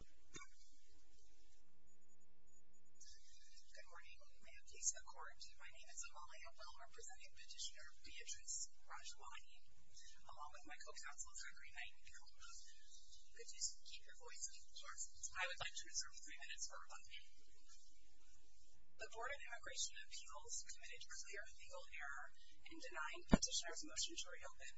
Good morning. May it please the court, my name is Amalia Bell representing Petitioner Beatrice Rajwayi, along with my co-counsel Zachary Nightingale. If you could just keep your voices short, I would like to reserve three minutes for rebuttal. The Board of Immigration Appeals committed clear legal error in denying Petitioner's motion to reopen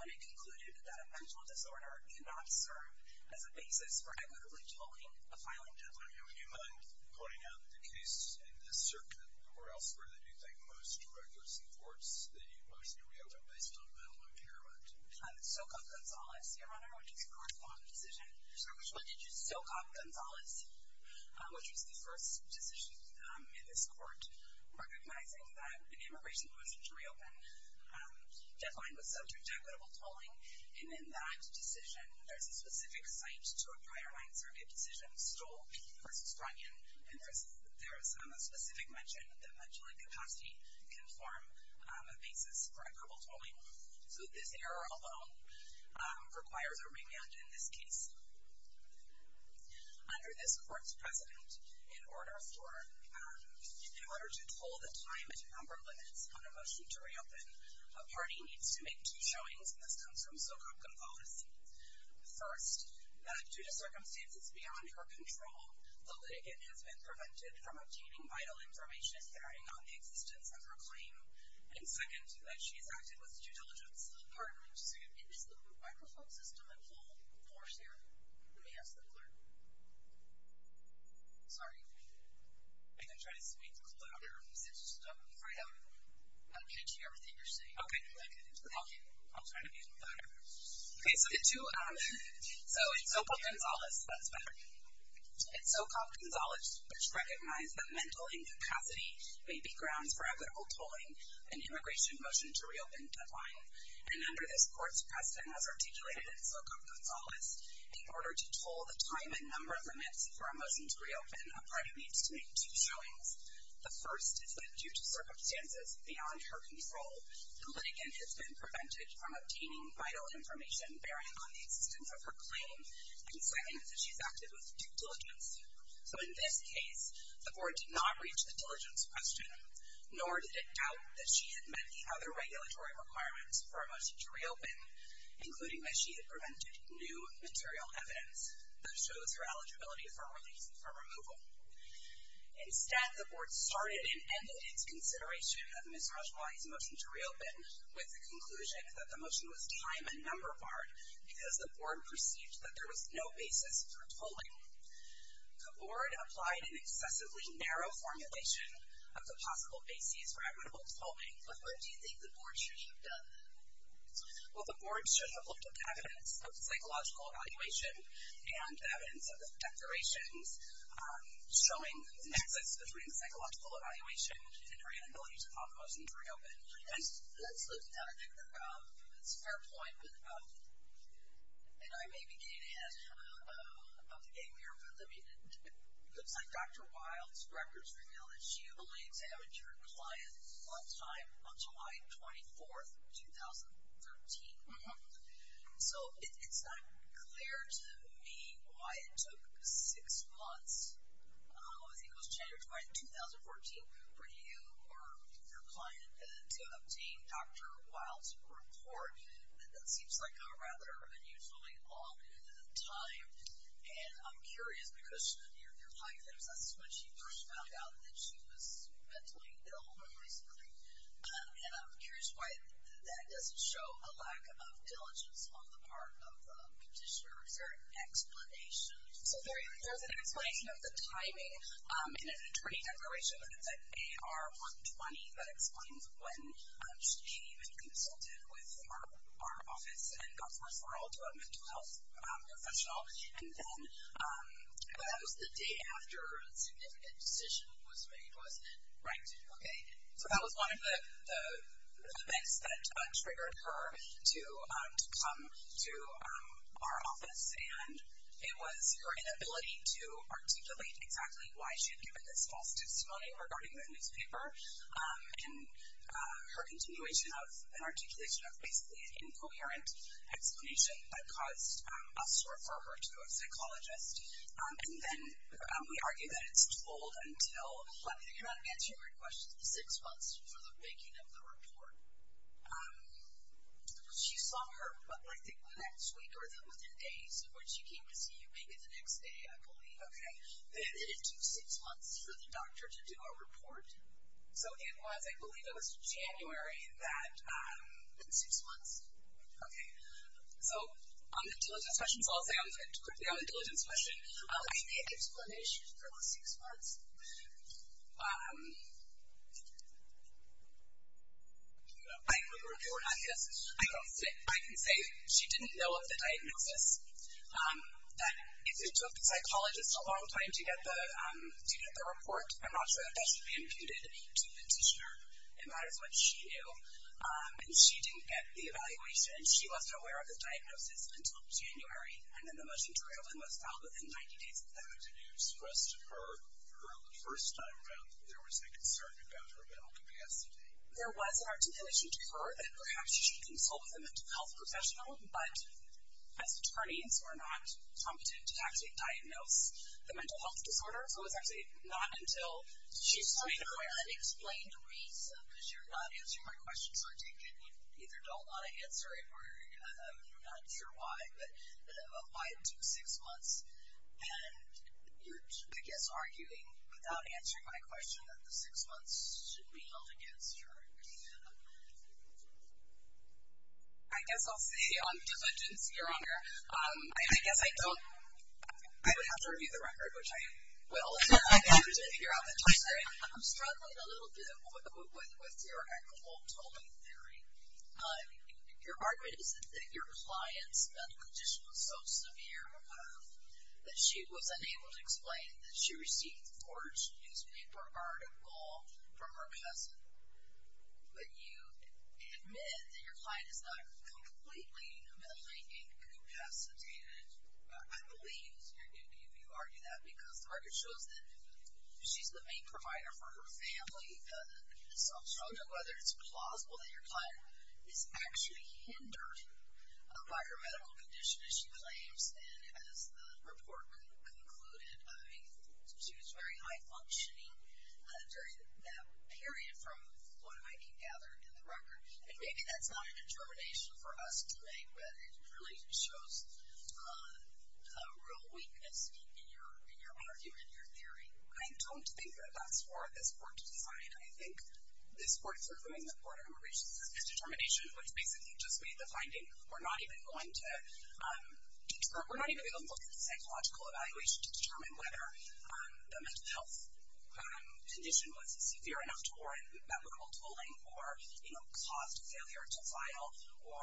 when it concluded that a mental disorder cannot serve as a basis for equitably tolling a filing deadline. Would you mind pointing out the case in this circuit or elsewhere that you think most records and courts that you've motioned to reopen based on mental impairment? Sokov-Gonzalez, Your Honor, which is a court-filed decision. Sorry, which one did you say? Sokov-Gonzalez, which was the first decision in this court, recognizing that an immigration motion to reopen deadline was subject to equitable tolling. And in that decision, there's a specific cite to a prior line survey of decisions, Stoll v. Runyon, and there's a specific mention that mental incapacity can form a basis for equitable tolling. So this error alone requires a remand in this case. Under this court's precedent, in order to pull the time and number limits on a motion to reopen, a party needs to make two showings, and this comes from Sokov-Gonzalez. First, that due to circumstances beyond her control, the litigant has been prevented from obtaining vital information bearing on the existence of her claim. And second, that she has acted with due diligence. Pardon me, just a second. Is the microphone system at full force here? Let me ask the clerk. Sorry. I didn't try to speak louder. It's just, I'm afraid I'm catching everything you're saying. Okay. Thank you. I'll try to be louder. Okay, so the two, so in Sokov-Gonzalez, that's better. In Sokov-Gonzalez, it's recognized that mental incapacity may be grounds for equitable tolling, an immigration motion to reopen deadline. And under this court's precedent, as articulated in Sokov-Gonzalez, in order to toll the time and number limits for a motion to reopen, a party needs to make two showings. The first is that due to circumstances beyond her control, the litigant has been prevented from obtaining vital information bearing on the existence of her claim. And second is that she has acted with due diligence. So in this case, the board did not reach the diligence question, nor did it doubt that she had met the other regulatory requirements for a motion to reopen, including that she had prevented new material evidence that shows her eligibility for a removal. Instead, the board started and ended its consideration of Ms. Rajwani's motion to reopen with the conclusion that the motion was time and number barred because the board perceived that there was no basis for tolling. The board applied an excessively narrow formulation of the possible basis for equitable tolling. But what do you think the board should have done? Well, the board should have looked at the evidence of the psychological evaluation and the evidence of the declarations showing the nexus between the psychological evaluation and her inability to file a motion to reopen. Let's look at that. I think that's a fair point, and I may be getting ahead of the game here. But I mean, it looks like Dr. Wild's records reveal that she only examined her client one time on July 24, 2013. So it's not clear to me why it took six months, I think it was January 2014, for you or your client to obtain Dr. Wild's report. That seems like a rather unusually long time. And I'm curious because your client, that was when she first found out that she was mentally ill recently. And I'm curious why that doesn't show a lack of diligence on the part of the petitioner. Is there an explanation? So there's an explanation of the timing in an attorney declaration that is an AR-120 that explains when she came and consulted with our office and got the referral to a mental health professional. And then that was the day after a significant decision was made, wasn't it? Right. Okay. So that was one of the events that triggered her to come to our office. And it was her inability to articulate exactly why she had given this false testimony regarding the newspaper. And her continuation of an articulation of basically an incoherent explanation that caused us to refer her to a psychologist. And then we argue that it's told until, I mean I cannot answer your question, six months before the making of the report. She saw her, I think the next week or within days of when she came to see you, make it the next day I believe. Okay. And it took six months for the doctor to do a report. So it was, I believe it was January that, six months. Okay. So on the diligence question, so I'll say on the diligence question, I made the explanation for the six months. I agree with you on this. I can say she didn't know of the diagnosis. That it took the psychologist a long time to get the report. I'm not sure that that should be imputed to the petitioner. It matters what she knew. And she didn't get the evaluation. She wasn't aware of the diagnosis until January. And then the motion to rail was filed within 90 days of that. Did you express to her, her first time around, that there was a concern about her mental capacity? There was an articulation to her that perhaps she should consult with a mental health professional. But as attorneys, we're not competent to actually diagnose the mental health disorder. So it's actually not until she's made aware. That's an unexplained reason because you're not answering my question. So I take it you either don't want to answer it or you're not sure why. But why it took six months. And you're, I guess, arguing without answering my question that the six months should be held against her. I guess I'll say, just because I didn't see her on here. I guess I don't. I would have to review the record, which I will. I'm struggling a little bit with your equitable tolling theory. Your argument is that your client's mental condition was so severe that she was unable to explain that she received a forged newspaper article from her cousin. But you admit that your client is not completely mentally incapacitated. I believe you argue that because the record shows that she's the main provider for her family. So I'm struggling whether it's plausible that your client is actually hindered by her medical condition, as she claims and as the report concluded. I mean, she was very high functioning during that period from what I can gather in the record. And maybe that's not a determination for us to make, but it really shows a real weakness in your argument, your theory. I don't think that that's for this Court to decide. I think this Court, for whom the Court of Immigration is a determination, which basically just made the finding we're not even going to look at the psychological evaluation to determine whether the mental health condition was severe enough to warrant medical tolling or caused a failure to file or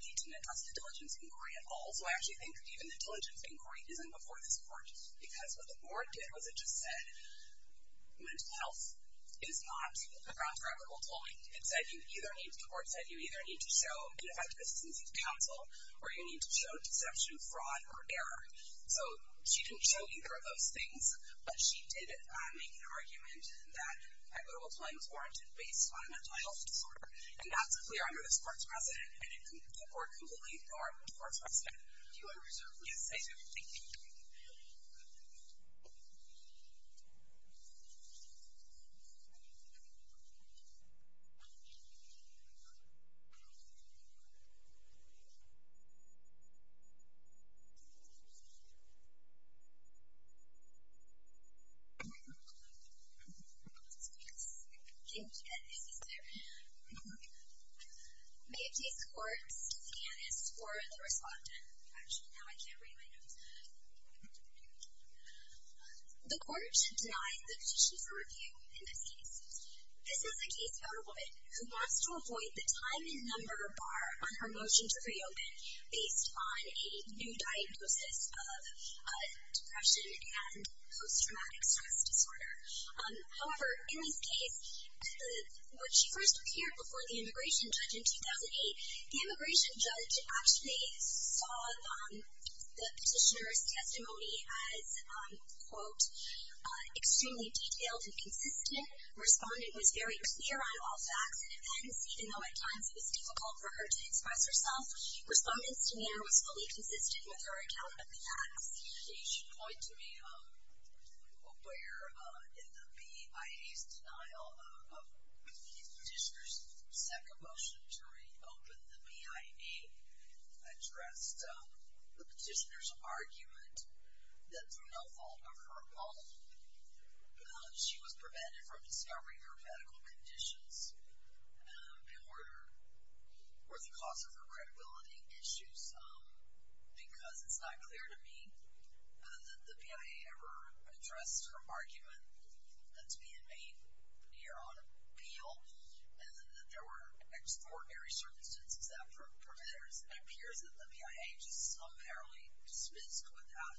need to address the diligence inquiry at all. So I actually think even the diligence inquiry isn't before this Court because what the Board did was it just said mental health is not grounds for equitable tolling. The Court said you either need to show ineffective assistance to counsel or you need to show deception, fraud, or error. So she didn't show either of those things, but she did make an argument that equitable tolling is warranted based on a mental health disorder. And that's clear under this Court's precedent, and the Court completely ignored the Court's precedent. Do you want to reserve? Yes, I do. Thank you. May it please the Court, Stacey Ann is for the respondent. Actually, now I can't read my notes. The Court should deny the petition for review in this case. This is a case about a woman who wants to avoid the time and number bar on her motion to reopen based on a new diagnosis of depression and post-traumatic stress disorder. However, in this case, when she first appeared before the immigration judge in 2008, the immigration judge actually saw the petitioner's testimony as, quote, extremely detailed and consistent. The respondent was very clear on all facts and events, even though at times it was difficult for her to express herself. Respondent's demeanor was fully consistent with her account of the facts. You should point to me where in the BID's denial of the petitioner's second motion to reopen, the BID addressed the petitioner's argument that through no fault of her own, she was prevented from discovering her medical conditions or the cause of her credibility issues, because it's not clear to me that the BIA ever addressed her argument that's being made here on appeal and that there were extraordinary circumstances that prevented her. It appears that the BIA just unparalleled dismissed without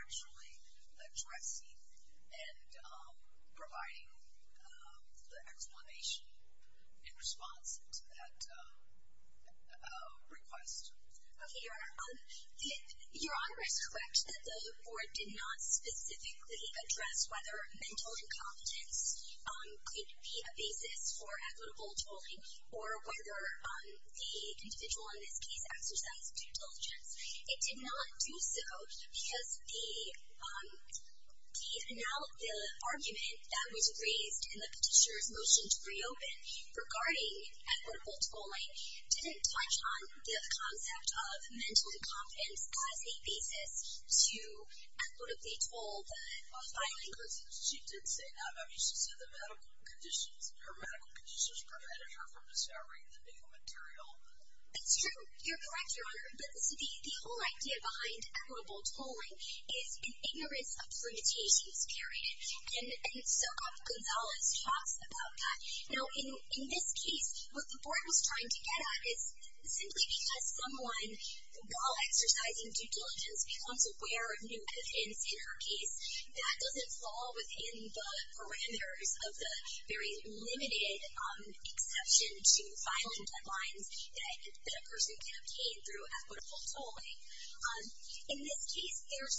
actually addressing and providing the explanation in response to that request. Okay, Your Honor. Your Honor is correct that the board did not specifically address whether mental incompetence could be a basis for equitable tolling or whether the individual in this case exercised due diligence. It did not do so because the argument that was raised in the petitioner's motion to reopen regarding equitable tolling didn't touch on the concept of mental incompetence as a basis to equitably toll the filing. Because she did say that. I mean, she said the medical conditions, her medical conditions prevented her from discovering the legal material. That's true. You're correct, Your Honor. But the whole idea behind equitable tolling is an ignorance of limitations, period. And so, Gonzales talks about that. Now, in this case, what the board was trying to get at is simply because someone, while exercising due diligence, becomes aware of new evidence in her case, that doesn't fall within the parameters of the very limited exception to filing deadlines that a person can obtain through equitable tolling. In this case, there's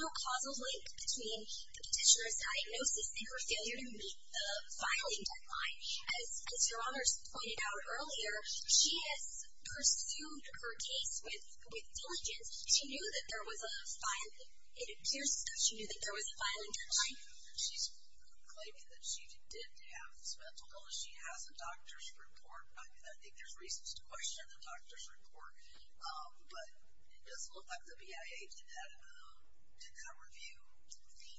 no causal link between the petitioner's diagnosis and her failure to meet the filing deadline. As Your Honor pointed out earlier, she has pursued her case with diligence. She knew that there was a filing deadline. It appears that she knew that there was a filing deadline. She's claiming that she did have this mental illness. She has a doctor's report. I think there's reasons to question the doctor's report. But it doesn't look like the BIA did that review.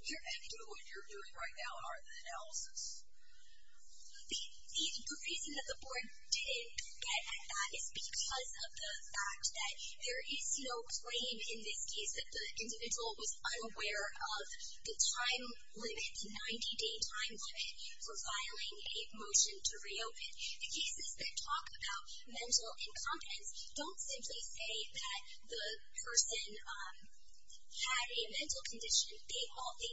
Your Honor. And what you're doing right now are the analysis. The reason that the board didn't get at that is because of the fact that there is no claim in this case that the individual was unaware of the time limit, the 90-day time limit for filing a motion to reopen. The cases that talk about mental incompetence don't simply say that the person had a mental condition. They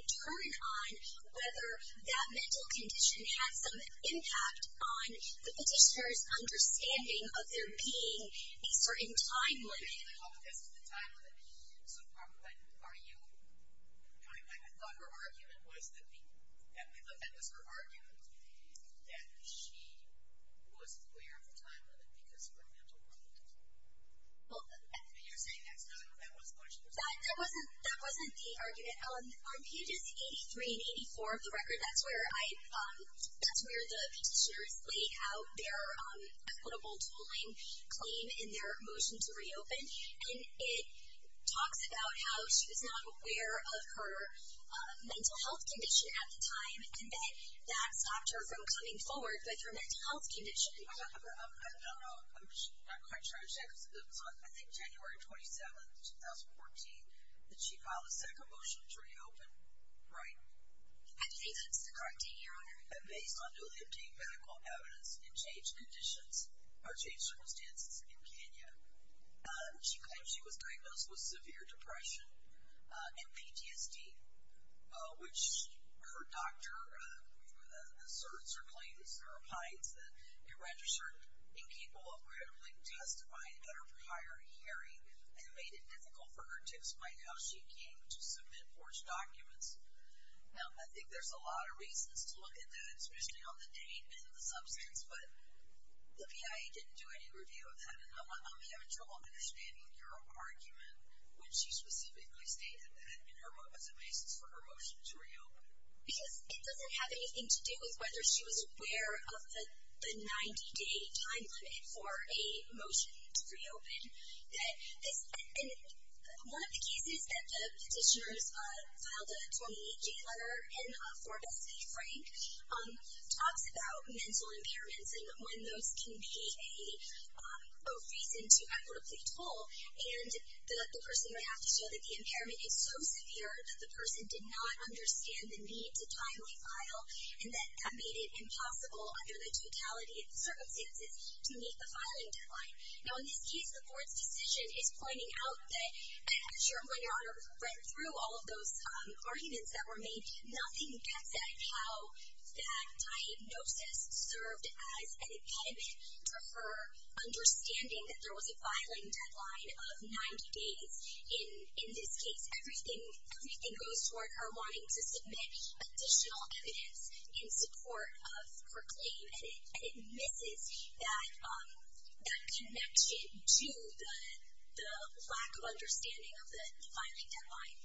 turn on whether that mental condition had some impact on the petitioner's understanding of there being a certain time limit. So are you going back? I thought her argument was that she was aware of the time limit because of her mental health. And you're saying that's not what she was talking about? That wasn't the argument. On pages 83 and 84 of the record, that's where the petitioner's laid out their equitable tooling claim in their motion to reopen. And it talks about how she was not aware of her mental health condition at the time, and that that stopped her from coming forward with her mental health condition. I don't know. I'm not quite sure. I think January 27, 2014, that she filed a second motion to reopen, right? I believe that's the correct date, Your Honor. And based on newly obtained medical evidence and changed conditions or changed circumstances in Kenya, she claims she was diagnosed with severe depression and PTSD, which her doctor asserts or claims or opines that it registered incapable of credibly testifying at her prior hearing and made it difficult for her to explain how she came to submit forged documents. Now, I think there's a lot of reasons to look at that, especially on the date and the substance, but the PIA didn't do any review of that. And I'm having trouble understanding your argument when she specifically stated that in her book as a basis for her motion to reopen. Because it doesn't have anything to do with whether she was aware of the 90-day time limit for a motion to reopen. One of the cases that the petitioners filed a 28-day letter in for Bessie Frank talks about mental impairments and when those can be a reason to apply for a plea toll. And the person would have to show that the impairment is so severe that the person did not understand the need to timely file and that made it impossible under the totality of the circumstances to meet the filing deadline. Now, in this case, the board's decision is pointing out that I'm sure when your Honor read through all of those arguments that were made, nothing gets at how that diagnosis served as an impediment for her understanding that there was a filing deadline of 90 days. In this case, everything goes toward her wanting to submit additional evidence in support of her claim. And it misses that connection to the lack of understanding of the filing deadline.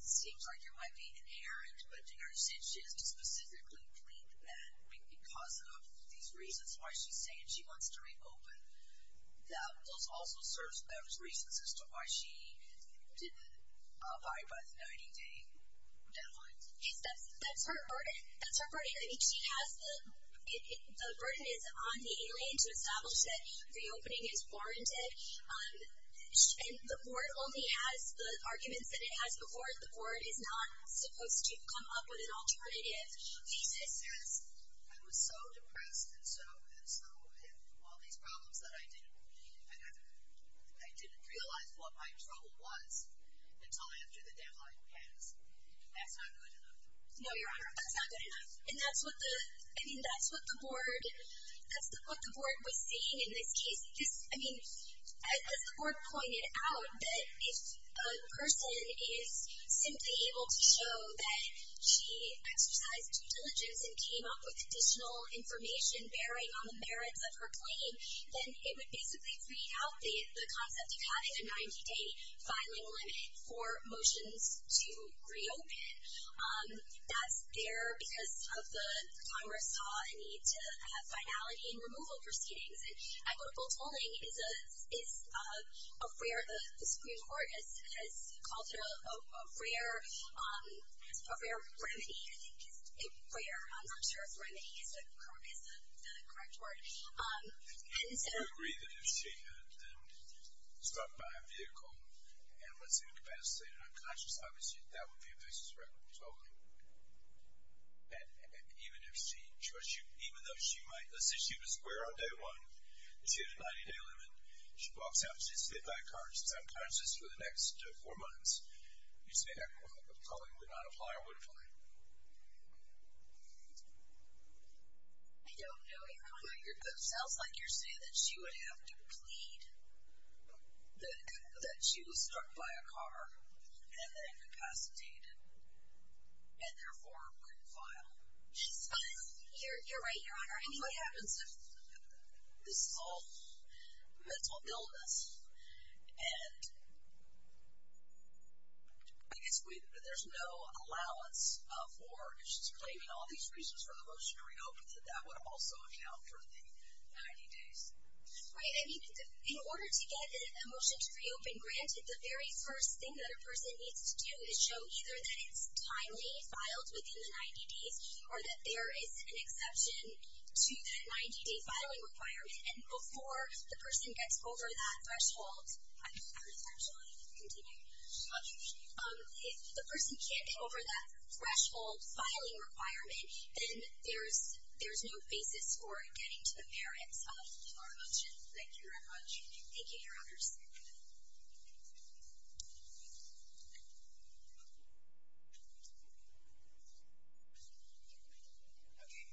It seems like it might be inherent, but your Honor said she has to specifically plead that because of these reasons why she's saying she wants to reopen. Those also serve as reasons as to why she didn't abide by the 90-day deadline. That's her burden. I mean, the burden is on the alien to establish that reopening is warranted. And the board only has the arguments that it has before it. The board is not supposed to come up with an alternative. She says, I was so depressed and so had all these problems that I didn't realize what my trouble was until after the deadline passed. That's not good enough. No, Your Honor, that's not good enough. And that's what the board was saying in this case. I mean, as the board pointed out, that if a person is simply able to show that she exercised due diligence and came up with additional information bearing on the merits of her claim, then it would basically create out the concept of having a 90-day filing limit for motions to reopen. That's there because of the Congress saw a need to have finality in removal proceedings. And equitable tolling is a rare, the Supreme Court has called it a rare remedy, I think is a rare, I'm not sure if remedy is the correct word. Do you agree that if she had been stopped by a vehicle and was incapacitated and unconscious, obviously that would be a basis for equitable tolling? And even if she chose to, even though she might, let's say she was aware on day one that she had a 90-day limit, she walks out, she sits in that car, she's unconscious for the next four months, you'd say equitable tolling would not apply or would apply? I don't know, Your Honor. It sounds like you're saying that she would have to plead that she was struck by a car and then incapacitated and therefore couldn't file. You're right, Your Honor. What happens if this is all mental illness and there's no allowance for claiming all these reasons for the motion to reopen, that that would also account for the 90 days? Right. I mean, in order to get a motion to reopen granted, the very first thing that a person needs to do is show either that it's timely, filed within the 90 days, or that there is an exception to that 90-day filing requirement. And before the person gets over that threshold, I'm just going to continue. If the person can't get over that threshold filing requirement, then there's no basis for getting to the merits of our motion. Thank you very much. Thank you, Your Honors. Okay.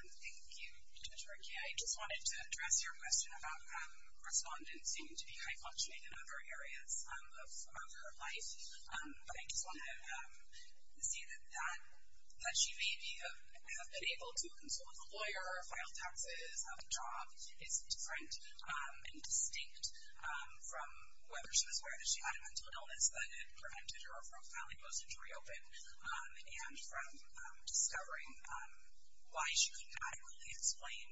Thank you, Judge Rickey. I just wanted to address your question about respondents seeming to be functioning in other areas of her life. But I just wanted to say that she may have been able to consult a lawyer or file taxes, have a job. It's different and distinct from whether she was aware that she had a mental illness that it prevented her from filing a motion to reopen and from discovering why she could not really explain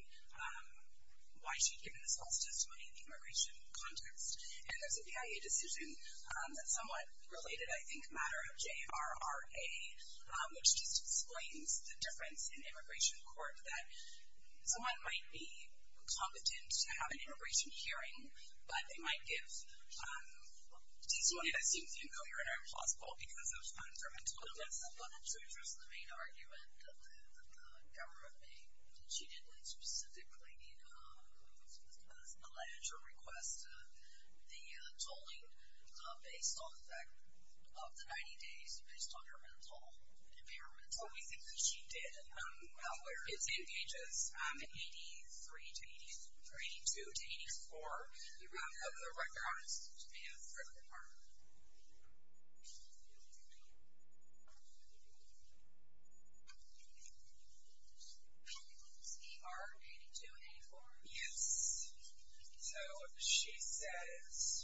why she had given a false testimony in the immigration context. And there's a PIA decision that's somewhat related, I think, a matter of JRRA, which just explains the difference in immigration court that someone might be competent to have an immigration hearing, but they might give testimony that seems unclear and implausible because of her mental illness. So just the main argument that the government made that she didn't specifically allege or request the tolling based on the fact of the 90 days, based on her mental impairments. Well, we think that she did. Well, where is it? Ages 83 to 82 to 84. Do we have the record on it? Do we have the record on it? CR-82-84? Yes. So she says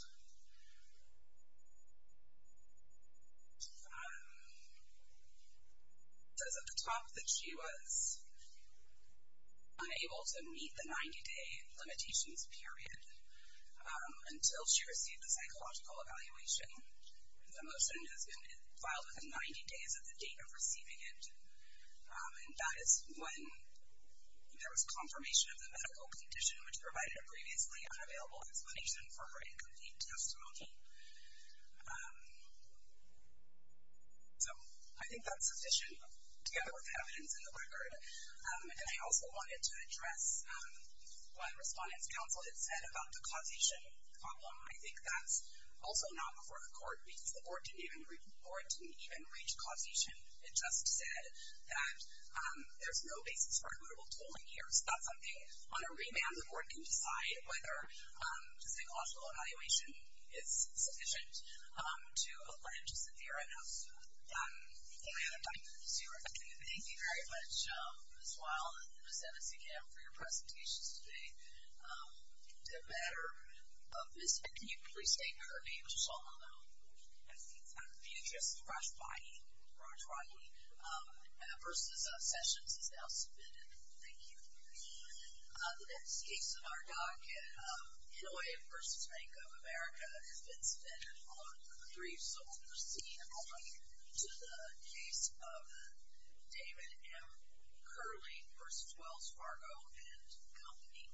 at the top that she was unable to meet the 90-day limitations period until she received a psychological evaluation. The motion has been filed within 90 days of the date of receiving it, and that is when there was confirmation of the medical condition, which provided a previously unavailable explanation for her incomplete testimony. So I think that's sufficient, together with the evidence in the record. And I also wanted to address what the Respondents' Council had said about the causation problem. I think that's also not before the court, because the board didn't even reach causation. It just said that there's no basis for eligible tolling here. So that's something, on a remand, the board can decide whether the psychological evaluation is sufficient to allenge a severe announcement. We have time for two more questions. Thank you very much, Ms. Weill and Ms. Ennessy-Kamm, for your presentations today. In the matter of Ms. Ennessy-Kamm, can you please state her name, just so I'll know? Yes, it's Beatrice Freshbody. Roger, Roger. Versus Sessions is now submitted. Thank you. The next case in our docket, Hanoi v. Bank of America has been submitted on three solvers, leading only to the case of David M. Curling v. Wells Fargo and Company.